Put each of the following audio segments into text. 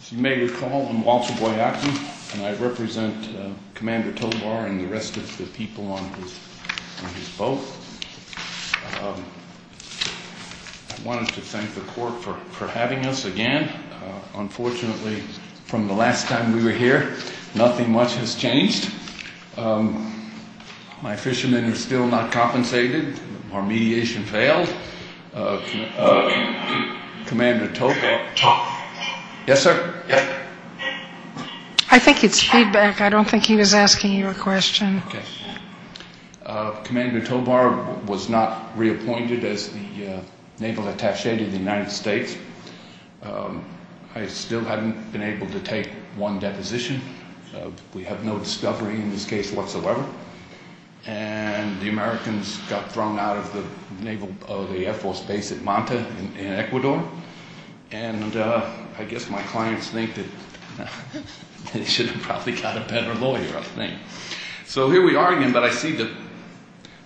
As you may recall, I'm Walter Boyacki, and I represent Commander Tobar and the rest of the people on his boat. I wanted to thank the Corps for having us again. Unfortunately, from the last time we were here, nothing much has changed. My fishermen are still not compensated. Our mediation failed. Commander Tobar was not reappointed as the naval attache to the United States. I still haven't been able to take one deposition. We have no discovery in this case whatsoever. And the Americans got thrown out of the Air Force base at Manta in Ecuador. And I guess my clients think that they should have probably got a better lawyer, I think. So here we are again, but I see that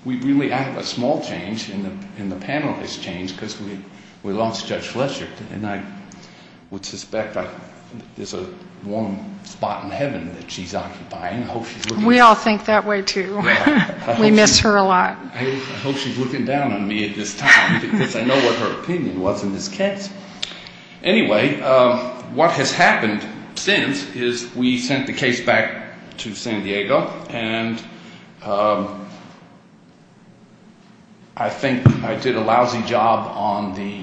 we really have a small change, and the panel has changed, because we lost Judge Fletcher. And I would suspect there's a warm spot in heaven that she's occupying. We all think that way, too. We miss her a lot. I hope she's looking down on me at this time, because I know what her opinion was in this case. Anyway, what has happened since is we sent the case back to San Diego, and I think I did a lousy job on the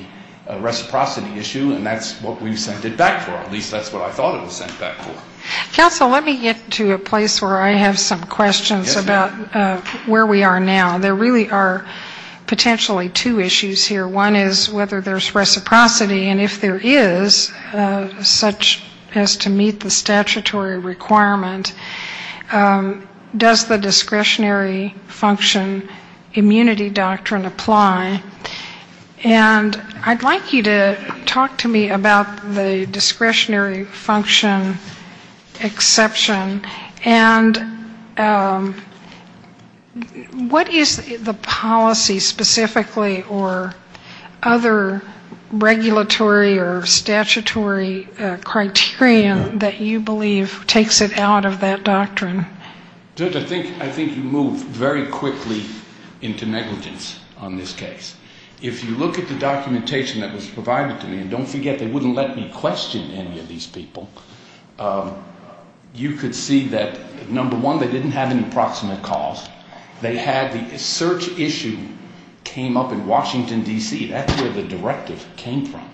reciprocity issue, and that's what we sent it back for. At least that's what I thought it was sent back for. Counsel, let me get to a place where I have some questions about where we are now. There really are potentially two issues here. One is whether there's reciprocity, and if there is, such as to meet the statutory requirement, does the discretionary function immunity doctrine apply? And I'd like you to talk to me about the discretionary function exception, and what is the policy specifically or other regulatory or statutory criterion that you believe takes it out of that doctrine? Judge, I think you move very quickly into negligence on this case. If you look at the documentation that was provided to me, and don't forget, they wouldn't let me question any of these people, you could see that, number one, they didn't have an approximate cause. They had the search issue came up in Washington, D.C. That's where the directive came from.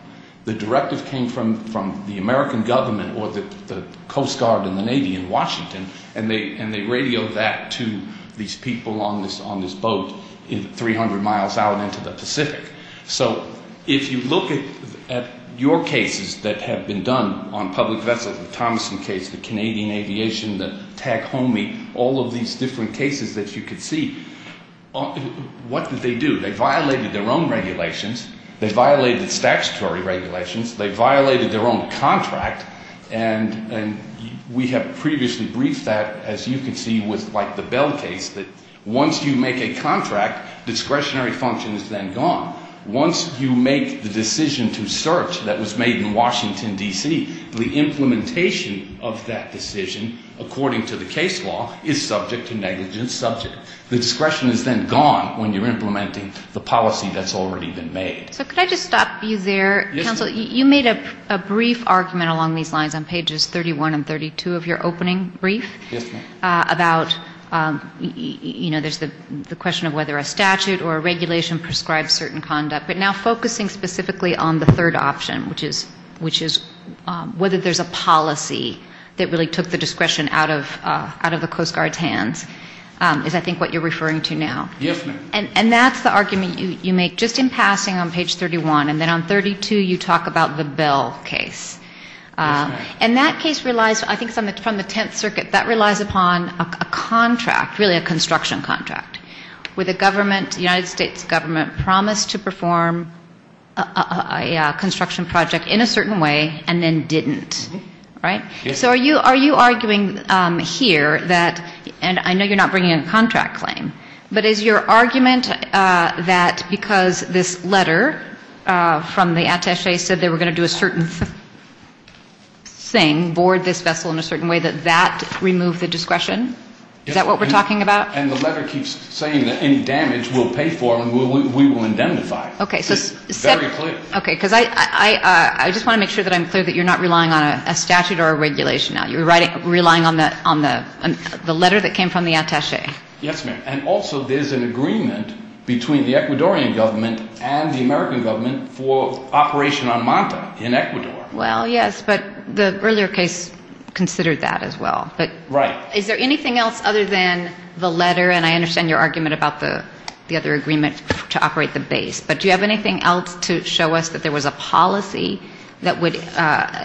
The directive came from the American government or the Coast Guard and the Navy in Washington, and they radioed that to these people on this boat 300 miles out into the Pacific. So if you look at your cases that have been done on public vessels, the Thomason case, the Canadian Aviation, the Tag Homey, all of these different cases that you could see, what did they do? They violated their own regulations. They violated statutory regulations. They violated their own contract, and we have previously briefed that, as you can see, with, like, the Bell case, that once you make a contract, discretionary function is then gone. Once you make the decision to search that was made in Washington, D.C., the implementation of that decision, according to the case law, is subject to negligence subject. The discretion is then gone when you're implementing the policy that's already been made. So could I just stop you there? Yes, ma'am. Counsel, you made a brief argument along these lines on pages 31 and 32 of your opening brief. Yes, ma'am. About, you know, there's the question of whether a statute or a regulation prescribes certain conduct, but now focusing specifically on the third option, which is whether there's a policy that really took the discretion out of the Coast Guard's hands, is, I think, what you're referring to now. Yes, ma'am. And that's the argument you make just in passing on page 31, and then on 32 you talk about the Bell case. Yes, ma'am. And that case relies, I think it's from the Tenth Circuit, that relies upon a contract, really a construction contract, where the government, the United States government, promised to perform a construction project in a certain way and then didn't, right? Yes, ma'am. Okay. So are you arguing here that, and I know you're not bringing a contract claim, but is your argument that because this letter from the attache said they were going to do a certain thing, board this vessel in a certain way, that that removed the discretion? Is that what we're talking about? And the letter keeps saying that any damage we'll pay for and we will indemnify. Okay. Very clear. I just want to make sure that I'm clear that you're not relying on a statute or a regulation. You're relying on the letter that came from the attache. Yes, ma'am. And also there's an agreement between the Ecuadorian government and the American government for operation on Manta in Ecuador. Well, yes, but the earlier case considered that as well. Right. Is there anything else other than the letter, and I understand your argument about the other agreement to operate the base, but do you have anything else to show us that there was a policy that would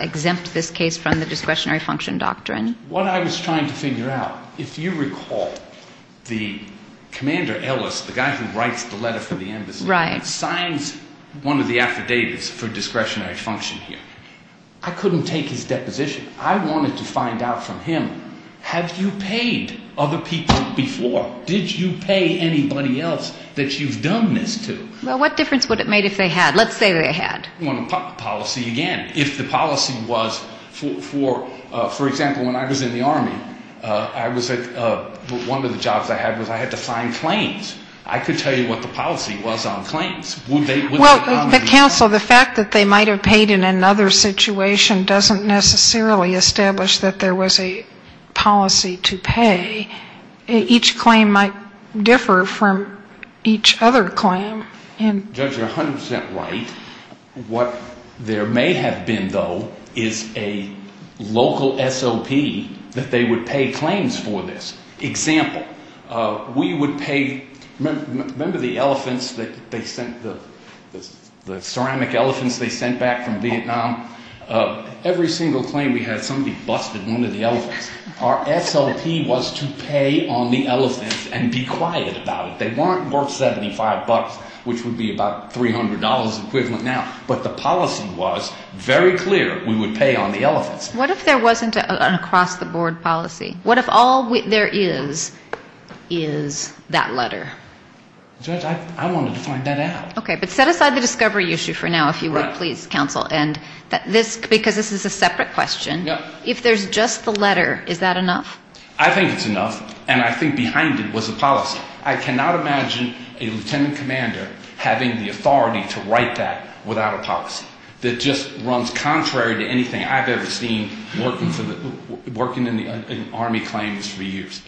exempt this case from the discretionary function doctrine? What I was trying to figure out, if you recall, the commander Ellis, the guy who writes the letter for the embassy, signs one of the affidavits for discretionary function here. I couldn't take his deposition. I wanted to find out from him, have you paid other people before? Did you pay anybody else that you've done this to? Well, what difference would it make if they had? Let's say they had. Policy again. If the policy was, for example, when I was in the Army, I was at one of the jobs I had was I had to sign claims. I could tell you what the policy was on claims. Well, counsel, the fact that they might have paid in another situation doesn't necessarily establish that there was a policy to pay. Each claim might differ from each other claim. Judge, you're 100 percent right. What there may have been, though, is a local SLP that they would pay claims for this. Example, we would pay – remember the elephants that they sent, the ceramic elephants they sent back from Vietnam? Every single claim we had, somebody busted one of the elephants. Our SLP was to pay on the elephants and be quiet about it. They weren't worth 75 bucks, which would be about $300 equivalent now. But the policy was very clear. We would pay on the elephants. What if there wasn't an across-the-board policy? What if all there is is that letter? Judge, I wanted to find that out. Okay, but set aside the discovery issue for now, if you would, please, counsel. Because this is a separate question. If there's just the letter, is that enough? I think it's enough, and I think behind it was the policy. I cannot imagine a lieutenant commander having the authority to write that without a policy. That just runs contrary to anything I've ever seen working in Army claims for years.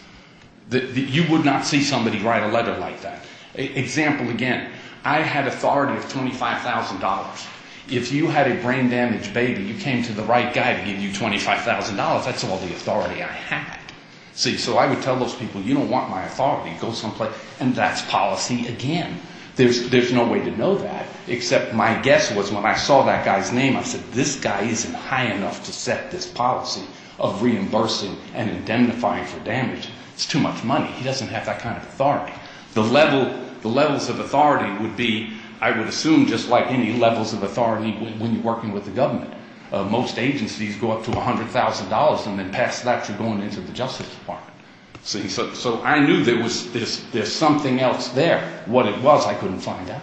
You would not see somebody write a letter like that. Example again, I had authority of $25,000. If you had a brain-damaged baby, you came to the right guy to give you $25,000. That's all the authority I had. See, so I would tell those people, you don't want my authority, go someplace else. And that's policy again. There's no way to know that, except my guess was when I saw that guy's name, I said, this guy isn't high enough to set this policy of reimbursing and indemnifying for damage. It's too much money. He doesn't have that kind of authority. The levels of authority would be, I would assume, just like any levels of authority when you're working with the government. Most agencies go up to $100,000 and then pass that through going into the Justice Department. See, so I knew there was something else there. What it was, I couldn't find out.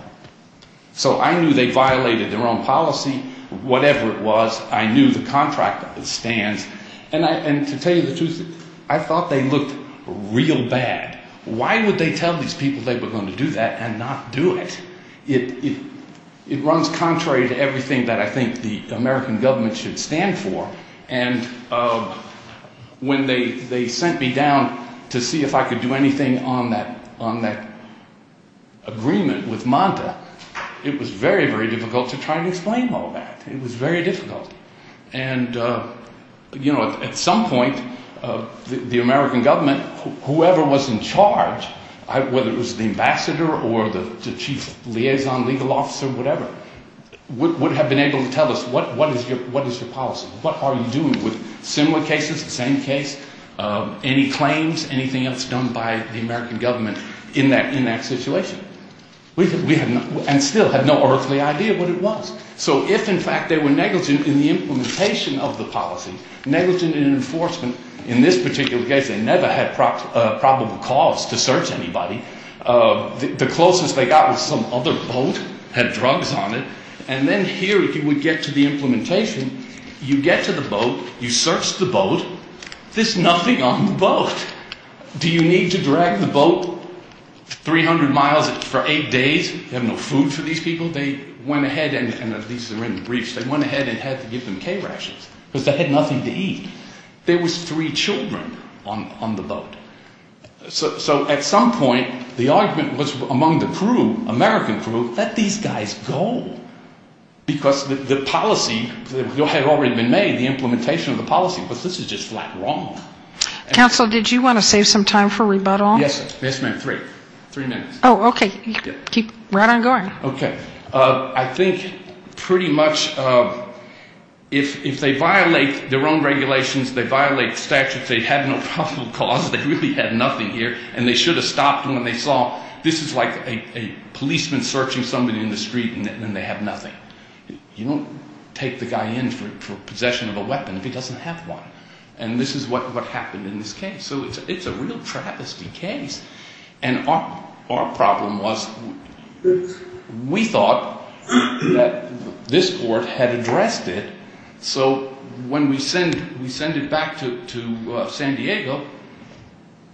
So I knew they violated their own policy. Whatever it was, I knew the contract stands. And to tell you the truth, I thought they looked real bad. Why would they tell these people they were going to do that and not do it? It runs contrary to everything that I think the American government should stand for. And when they sent me down to see if I could do anything on that agreement with Manta, it was very, very difficult to try and explain all that. It was very difficult. And, you know, at some point, the American government, whoever was in charge, whether it was the ambassador or the chief liaison legal officer, whatever, would have been able to tell us, what is your policy? What are you doing with similar cases, the same case, any claims, anything else done by the American government in that situation? And still had no earthly idea what it was. So if, in fact, they were negligent in the implementation of the policy, negligent in enforcement, in this particular case, they never had probable cause to search anybody. The closest they got was some other boat, had drugs on it. And then here, if you would get to the implementation, you get to the boat, you search the boat, there's nothing on the boat. Do you need to drag the boat 300 miles for eight days? You have no food for these people? They went ahead, and these are written briefs, they went ahead and had to give them K-rashes, because they had nothing to eat. There was three children on the boat. So at some point, the argument was among the crew, American crew, let these guys go, because the policy had already been made, the implementation of the policy, but this is just flat wrong. Counsel, did you want to save some time for rebuttal? Yes, ma'am, three minutes. Oh, okay. Keep right on going. Okay. I think pretty much if they violate their own regulations, they violate statutes, they had no probable cause, they really had nothing here, and they should have stopped when they saw, this is like a policeman searching somebody in the street and they have nothing. You don't take the guy in for possession of a weapon if he doesn't have one. And this is what happened in this case. So it's a real travesty case. And our problem was we thought that this court had addressed it, so when we send it back to San Diego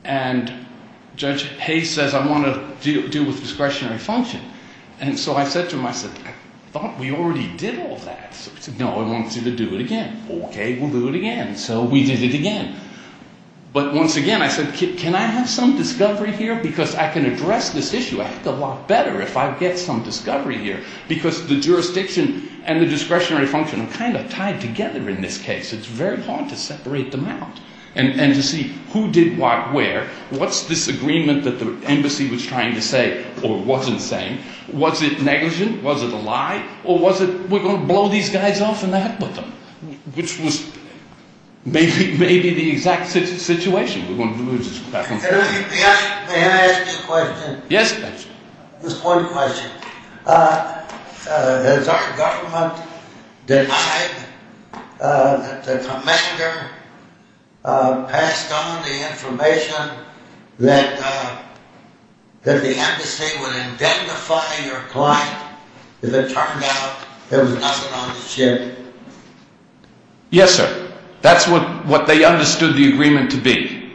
and Judge Hayes says, I want to deal with discretionary function. And so I said to him, I said, I thought we already did all that. He said, no, I want you to do it again. Okay, we'll do it again. So we did it again. But once again, I said, can I have some discovery here? Because I can address this issue a lot better if I get some discovery here. Because the jurisdiction and the discretionary function are kind of tied together in this case. It's very hard to separate them out and to see who did what where. What's this agreement that the embassy was trying to say or wasn't saying? Was it negligent? Was it a lie? Or was it we're going to blow these guys off and the heck with them? Which was maybe the exact situation. We wanted to move this back and forth. May I ask you a question? Yes. This court question. Has our government denied that the commander passed on the information that the embassy would identify your client? Has that turned out there was nothing on the ship? Yes, sir. That's what they understood the agreement to be.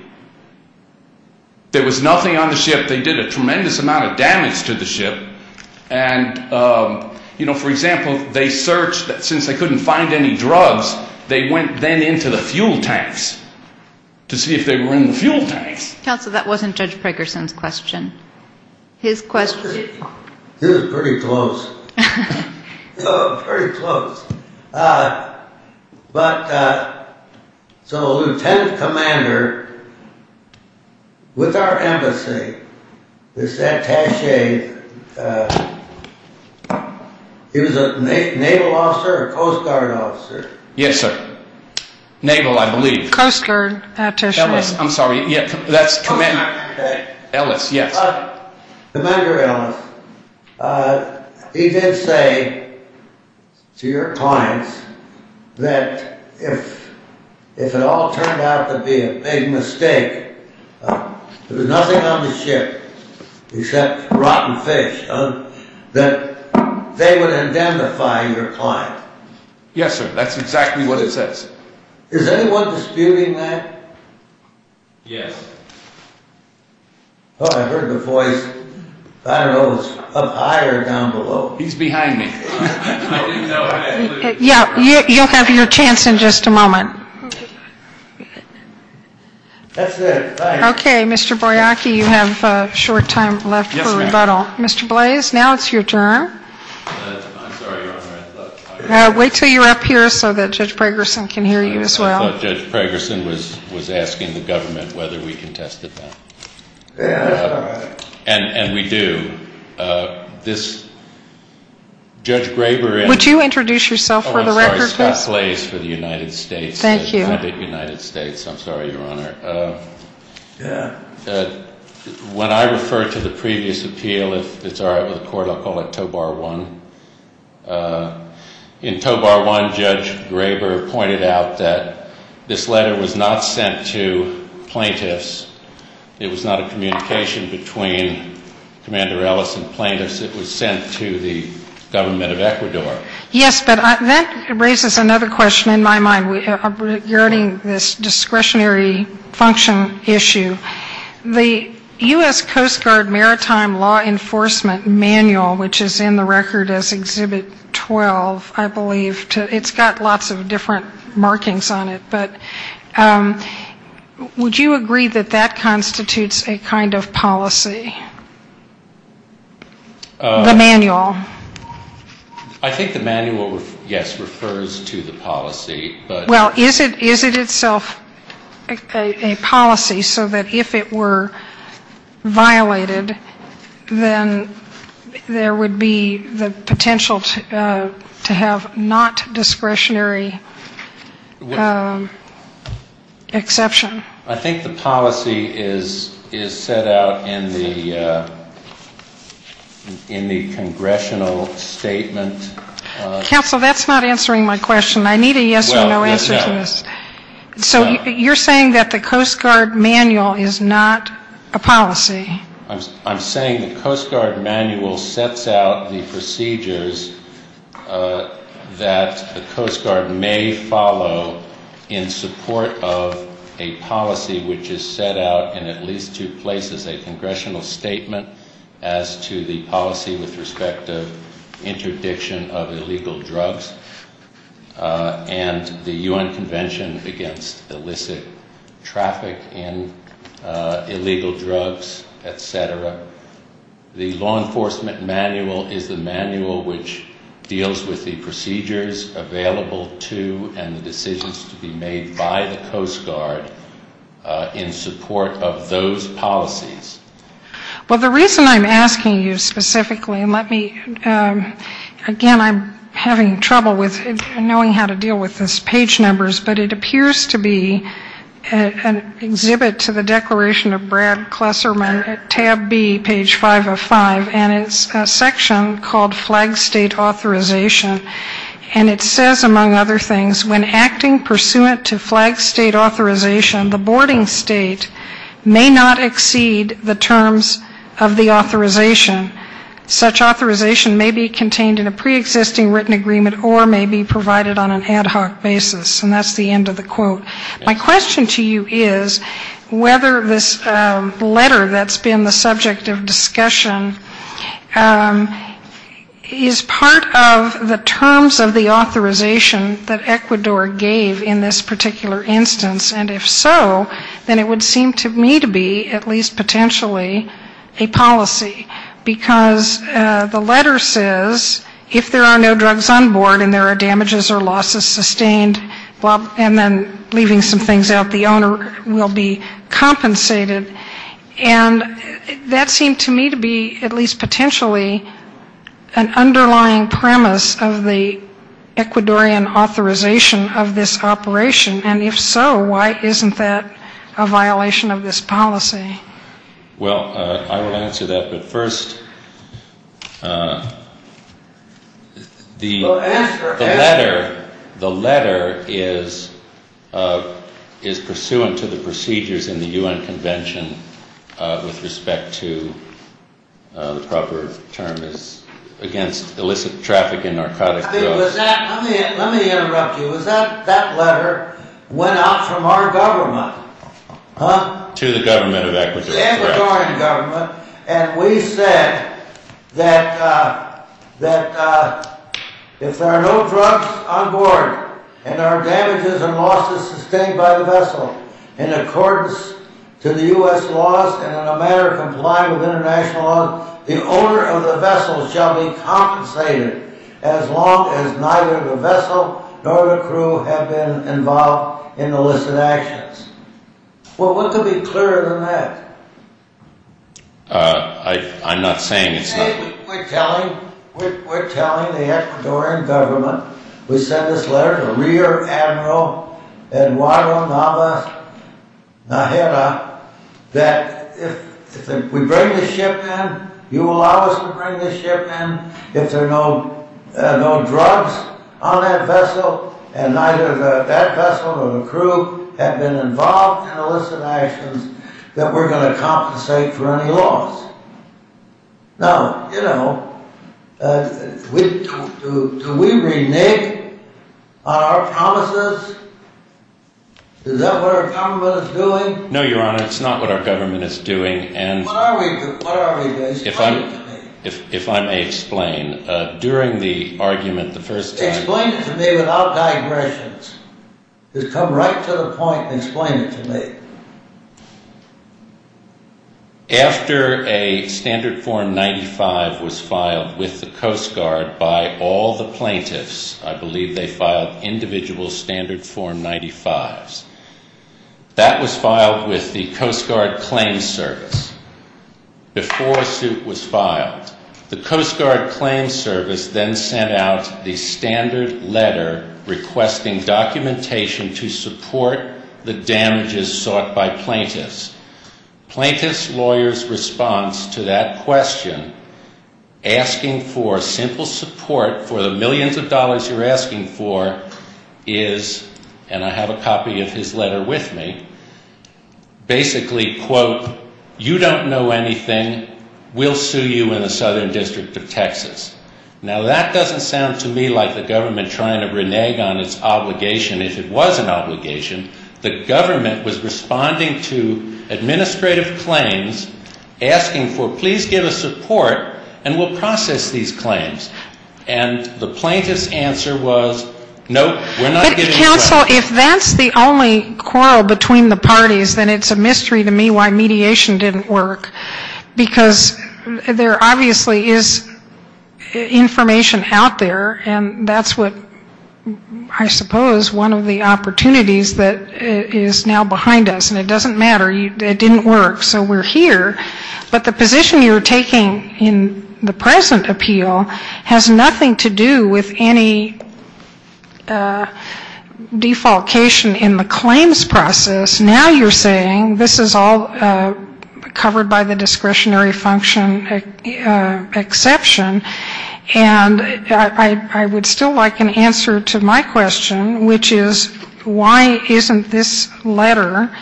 There was nothing on the ship. They did a tremendous amount of damage to the ship. And, you know, for example, they searched. Since they couldn't find any drugs, they went then into the fuel tanks to see if they were in the fuel tanks. Counsel, that wasn't Judge Prakerson's question. His question. This is pretty close. Pretty close. But so Lieutenant Commander, with our embassy, this attache, he was a naval officer or Coast Guard officer? Yes, sir. Naval, I believe. Coast Guard attache. Ellis. I'm sorry. That's commander. Ellis, yes. Commander Ellis, he did say to your clients that if it all turned out to be a big mistake, there was nothing on the ship except rotten fish, that they would identify your client. Yes, sir. That's exactly what it says. Is anyone disputing that? Yes. I heard the voice. I don't know if it was up high or down below. He's behind me. Yeah, you'll have your chance in just a moment. Okay, Mr. Boyacki, you have a short time left for rebuttal. Yes, ma'am. Mr. Blaze, now it's your turn. I'm sorry, Your Honor. Wait until you're up here so that Judge Prakerson can hear you as well. I thought Judge Prakerson was asking the government whether we contested that. Yeah. And we do. This Judge Graber and — Would you introduce yourself for the record, please? Oh, I'm sorry. Scott Blaze for the United States. Thank you. The United States. I'm sorry, Your Honor. Yeah. When I referred to the previous appeal, if it's all right with the Court, I'll call it Toe Bar One. In Toe Bar One, Judge Graber pointed out that this letter was not sent to plaintiffs. It was not a communication between Commander Ellis and plaintiffs. It was sent to the government of Ecuador. Yes, but that raises another question in my mind regarding this discretionary function issue. The U.S. Coast Guard Maritime Law Enforcement Manual, which is in the record as Exhibit 12, I believe, it's got lots of different markings on it. But would you agree that that constitutes a kind of policy? The manual. I think the manual, yes, refers to the policy. Well, is it itself a policy so that if it were violated, then there would be the potential to have not discretionary exception? I think the policy is set out in the congressional statement. Counsel, that's not answering my question. I need a yes or no answer to this. So you're saying that the Coast Guard manual is not a policy? I'm saying the Coast Guard manual sets out the procedures that the Coast Guard may follow in support of a policy which is set out in at least two places, a congressional statement as to the policy with respect to interdiction of illegal drugs. And the U.N. Convention Against Illicit Traffic in Illegal Drugs, et cetera. The law enforcement manual is the manual which deals with the procedures available to and the decisions to be made by the Coast Guard in support of those policies. Well, the reason I'm asking you specifically, and let me, again, I'm having trouble with knowing how to deal with this page numbers, but it appears to be an exhibit to the Declaration of Brad Klesserman at tab B, page 505. And it's a section called Flag State Authorization. And it says, among other things, when acting pursuant to flag state authorization, the boarding state may not exceed the terms of the authorization. Such authorization may be contained in a preexisting written agreement or may be provided on an ad hoc basis. And that's the end of the quote. My question to you is whether this letter that's been the subject of discussion is part of the terms of the authorization that Ecuador gave in this particular instance. And if so, then it would seem to me to be at least potentially a policy. Because the letter says if there are no drugs on board and there are damages or losses sustained, and then leaving some things out, the owner will be compensated. And that seemed to me to be at least potentially an underlying premise of the Ecuadorian authorization of this operation. And if so, why isn't that a violation of this policy? Well, I will answer that. But first, the letter is pursuant to the procedures in the U.N. Convention with respect to the proper term is against illicit traffic in narcotic drugs. Let me interrupt you. Was that letter went out from our government? To the government of Ecuador. The Ecuadorian government. And we said that if there are no drugs on board and there are damages and losses sustained by the vessel in accordance to the U.S. laws and in a manner complying with international laws, the owner of the vessel shall be compensated as long as neither the vessel nor the crew have been involved in illicit actions. Well, what could be clearer than that? I'm not saying it's not... We're telling the Ecuadorian government. We sent this letter to Rear Admiral Eduardo Navas Najera that if we bring the ship in, you will allow us to bring the ship in, if there are no drugs on that vessel and neither that vessel nor the crew have been involved in illicit actions, that we're going to compensate for any loss. Now, you know, do we renege on our promises? Is that what our government is doing? No, Your Honor, it's not what our government is doing and... What are we doing? Explain it to me. If I may explain, during the argument the first time... Explain it to me without digressions. Just come right to the point and explain it to me. After a Standard Form 95 was filed with the Coast Guard by all the plaintiffs, I believe they filed individual Standard Form 95s, that was filed with the Coast Guard Claims Service before a suit was filed. The Coast Guard Claims Service then sent out the standard letter requesting documentation to support the damages sought by plaintiffs. Plaintiffs' lawyers' response to that question, asking for simple support for the millions of dollars you're asking for, is, and I have a copy of his letter with me, basically, quote, you don't know anything, we'll sue you in the Southern District of Texas. Now, that doesn't sound to me like the government trying to renege on its obligation. If it was an obligation, the government was responding to administrative claims, asking for please give us support and we'll process these claims. And the plaintiff's answer was, nope, we're not giving you credit. But counsel, if that's the only quarrel between the parties, then it's a mystery to me why mediation didn't work. Because there obviously is information out there, and that's what I suppose one of the opportunities that is now behind us. And it doesn't matter. It didn't work. So we're here. But the position you're taking in the present appeal has nothing to do with any defalcation in the claims process. Now you're saying this is all covered by the discretionary function exception. And I would still like an answer to my question, which is why isn't this letter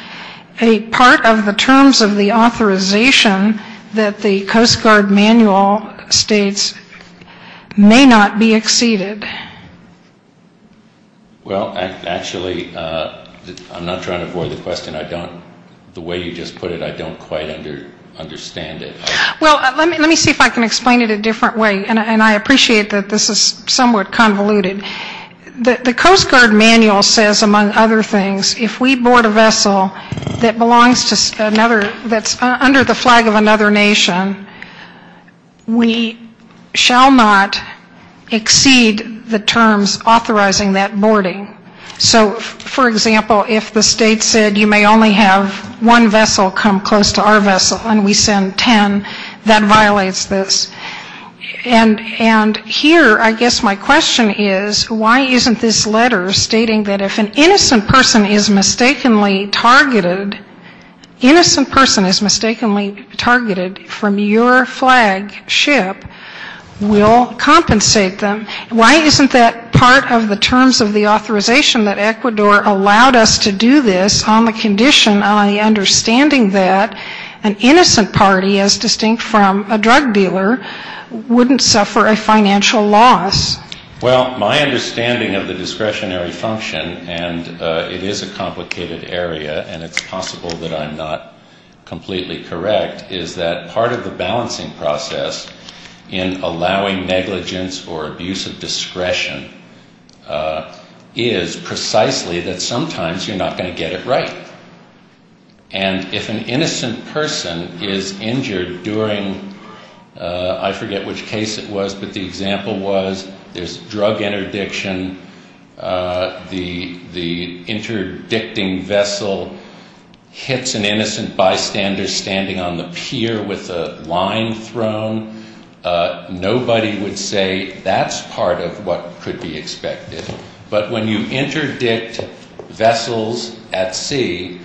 a part of the terms of the authorization that the Coast Guard manual states may not be exceeded? Well, actually, I'm not trying to avoid the question. I don't, the way you just put it, I don't quite understand it. Well, let me see if I can explain it a different way. And I appreciate that this is somewhat convoluted. The Coast Guard manual says, among other things, if we board a vessel that belongs to another, that's under the flag of another nation, we shall not exceed the terms authorizing that boarding. So, for example, if the state said you may only have one vessel come close to our vessel and we send 10, that violates this. And here I guess my question is why isn't this letter stating that if an innocent person is mistakenly targeted, innocent person is mistakenly targeted from your flagship, we'll compensate them. Why isn't that part of the terms of the authorization that Ecuador allowed us to do this on the condition, on the understanding that an innocent party, as distinct from a drug dealer, wouldn't suffer a financial loss? Well, my understanding of the discretionary function, and it is a complicated area, and it's possible that I'm not completely correct, is that part of the balancing process in allowing negligence or abuse of discretion is precisely that sometimes you're not going to get it right. And if an innocent person is injured during, I forget which case it was, but the example was, there's drug interdiction, the interdicting vessel hits an innocent bystander standing on the pier with a line thrown, nobody would say that's part of what could be expected. But when you interdict vessels at sea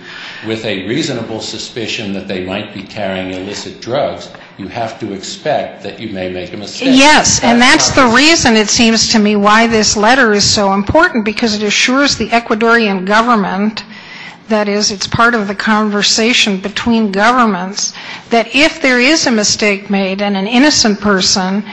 with a reasonable suspicion that they might be carrying illicit drugs, you have to expect that you may make a mistake. Yes, and that's the reason it seems to me why this letter is so important, because it assures the Ecuadorian government, that is, it's part of the conversation between governments, that if there is a mistake made and an innocent person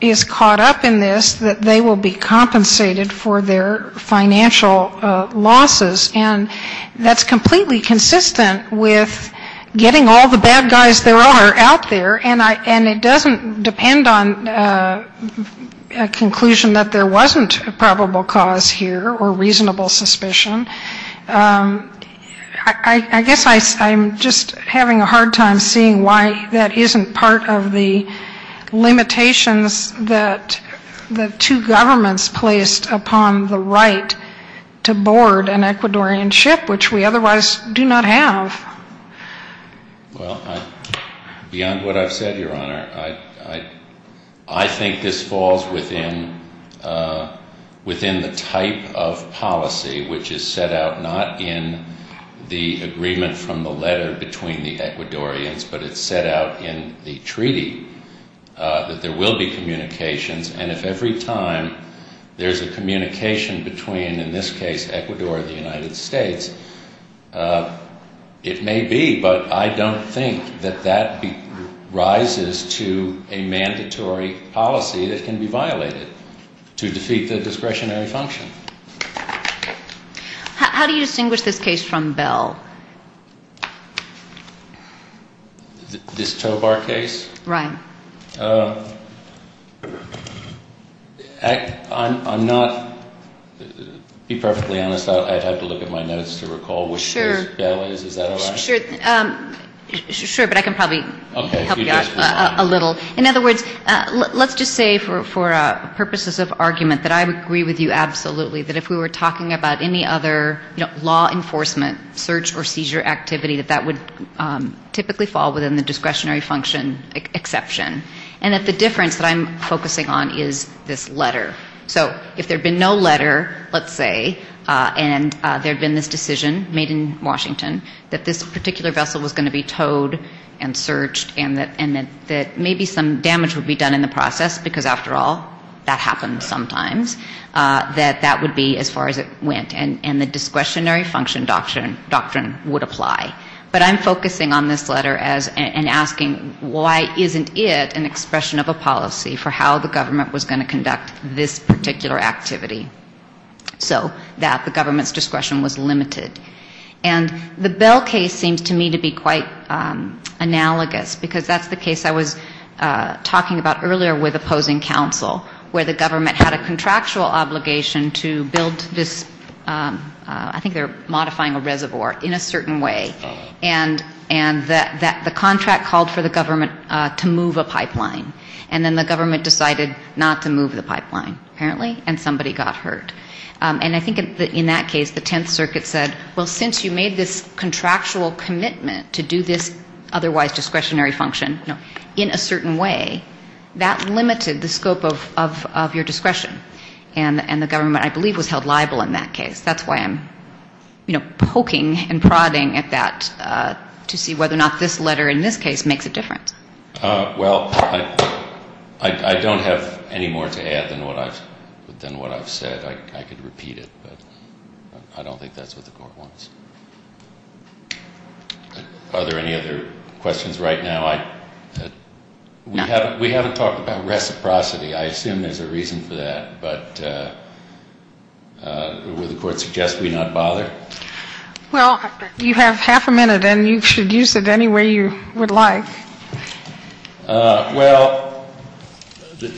is caught up in this, that they will be compensated for their financial losses. And that's completely consistent with getting all the bad guys there are out there, and it doesn't depend on a conclusion that there wasn't a probable cause here or reasonable suspicion. I guess I'm just having a hard time seeing why that isn't part of the limitations that the two governments placed upon the right to board an Ecuadorian ship, which we otherwise do not have. Well, beyond what I've said, Your Honor, I think this falls within the type of policy which is set out not only by the Ecuadorian government, not in the agreement from the letter between the Ecuadorians, but it's set out in the treaty, that there will be communications, and if every time there's a communication between, in this case, Ecuador and the United States, it may be, but I don't think that that rises to a mandatory policy that can be violated to defeat the discretionary function. How do you distinguish this case from Bell? This Tobar case? I'm not, to be perfectly honest, I'd have to look at my notes to recall which case Bell is, is that all right? Sure, but I can probably help you out a little. In other words, let's just say for purposes of argument that I would agree with you absolutely that if we were talking about any other law enforcement, search or seizure activity, that that would typically fall within the discretionary function exception, and that the difference that I'm focusing on is this letter. So if there had been no letter, let's say, and there had been this decision made in Washington that this particular vessel was going to be towed and searched and that maybe some damage would be done in the process, because after all, that happens sometimes, that that would be as far as it went. And the discretionary function doctrine would apply. But I'm focusing on this letter and asking why isn't it an expression of a policy for how the government was going to conduct this particular activity, so that the government's discretion was limited. And the Bell case seems to me to be quite analogous, because that's the case I was talking about earlier with opposing counsel, where the government had a contractual obligation to build this, I think they're modifying a reservoir, in a certain way, and the contract called for the government to move a pipeline. And then the government decided not to move the pipeline, apparently, and somebody got hurt. And I think in that case, the Tenth Circuit said, well, since you made this contractual commitment to do this otherwise discretionary function in a certain way, that limited the scope of your discretion. And the government, I believe, was held liable in that case. That's why I'm poking and prodding at that to see whether or not this letter in this case makes a difference. Well, I don't have any more to add than what I've said. I could repeat it, but I don't think that's what the Court wants. Are there any other questions right now? We haven't talked about reciprocity. I assume there's a reason for that, but would the Court suggest we not bother? Well, you have half a minute, and you should use it any way you would like. Well,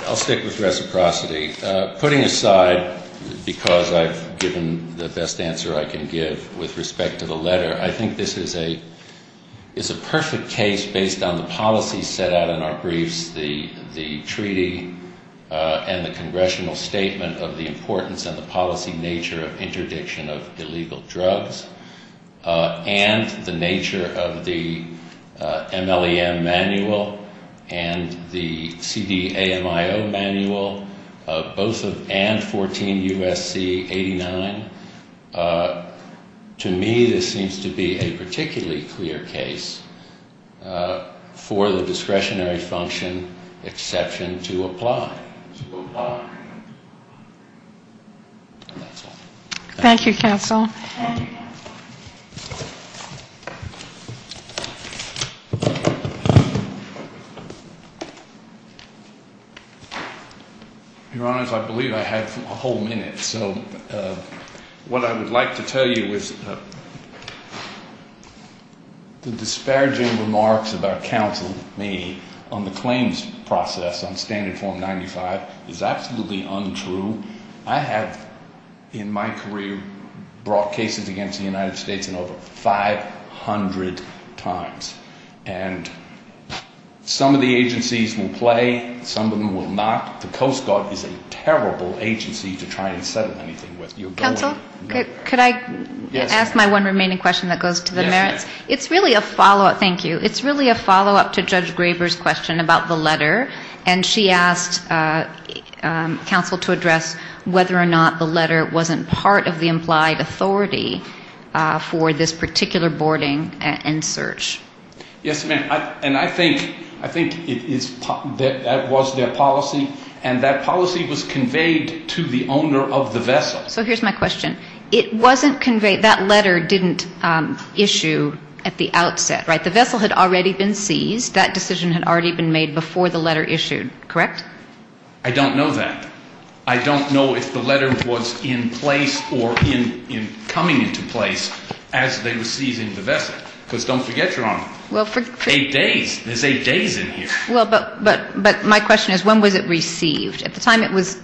I'll stick with reciprocity. Putting aside, because I've given the best answer I can give with respect to the letter, I think this is a perfect case based on the policy set out in our briefs, the Treaty and the Congressional Statement of the Importance and the Policy Nature of Interdiction of Illegal Drugs, and the nature of the MLEM Manual and the CDAMIO Manual, both of and 14 U.S.C. 89. To me, this seems to be a particularly clear case for the discretionary function, exception to apply. And that's all. Thank you, Counsel. Your Honors, I believe I have a whole minute. So what I would like to tell you is the disparaging remarks about counsel, me, on the claims process on Standard Form 95 is absolutely untrue. I have, in my career, brought cases against the United States in over 500 times, and some of the agencies will play, some of them will not. The Coast Guard is a terrible agency to try and settle anything with. Counsel, could I ask my one remaining question that goes to the merits? It's really a follow-up to Judge Graber's question about the letter, and she asked counsel to address whether or not the letter wasn't part of the implied authority for this particular boarding and search. Yes, ma'am, and I think that was their policy, and that policy was conveyed to the owner of the vessel. So here's my question. It wasn't conveyed, that letter didn't issue at the outset, right? The vessel had already been seized. That decision had already been made before the letter issued, correct? I don't know that. I don't know if the letter was in place or coming into place as they were seizing the vessel. Because don't forget, Your Honor, eight days, there's eight days in here. But my question is, when was it received? At the time it was,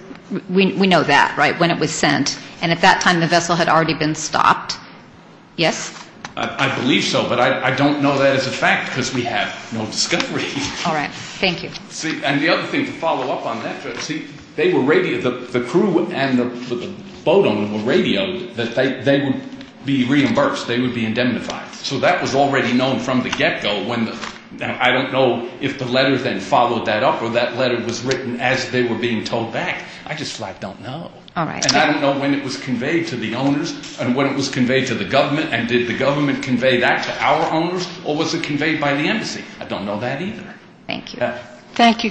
we know that, right, when it was sent, and at that time the vessel had already been stopped. Yes? I believe so, but I don't know that as a fact because we have no discovery. All right, thank you. See, and the other thing to follow up on that, Judge, the crew and the boat owner were radioed that they would be reimbursed, they would be indemnified. So that was already known from the get-go. I don't know if the letter then followed that up or that letter was written as they were being towed back. I just don't know. And I don't know when it was conveyed to the owners and when it was conveyed to the government, and did the government convey that to our owners or was it conveyed by the embassy? I don't know that either. Thank you. Thank you, counsel.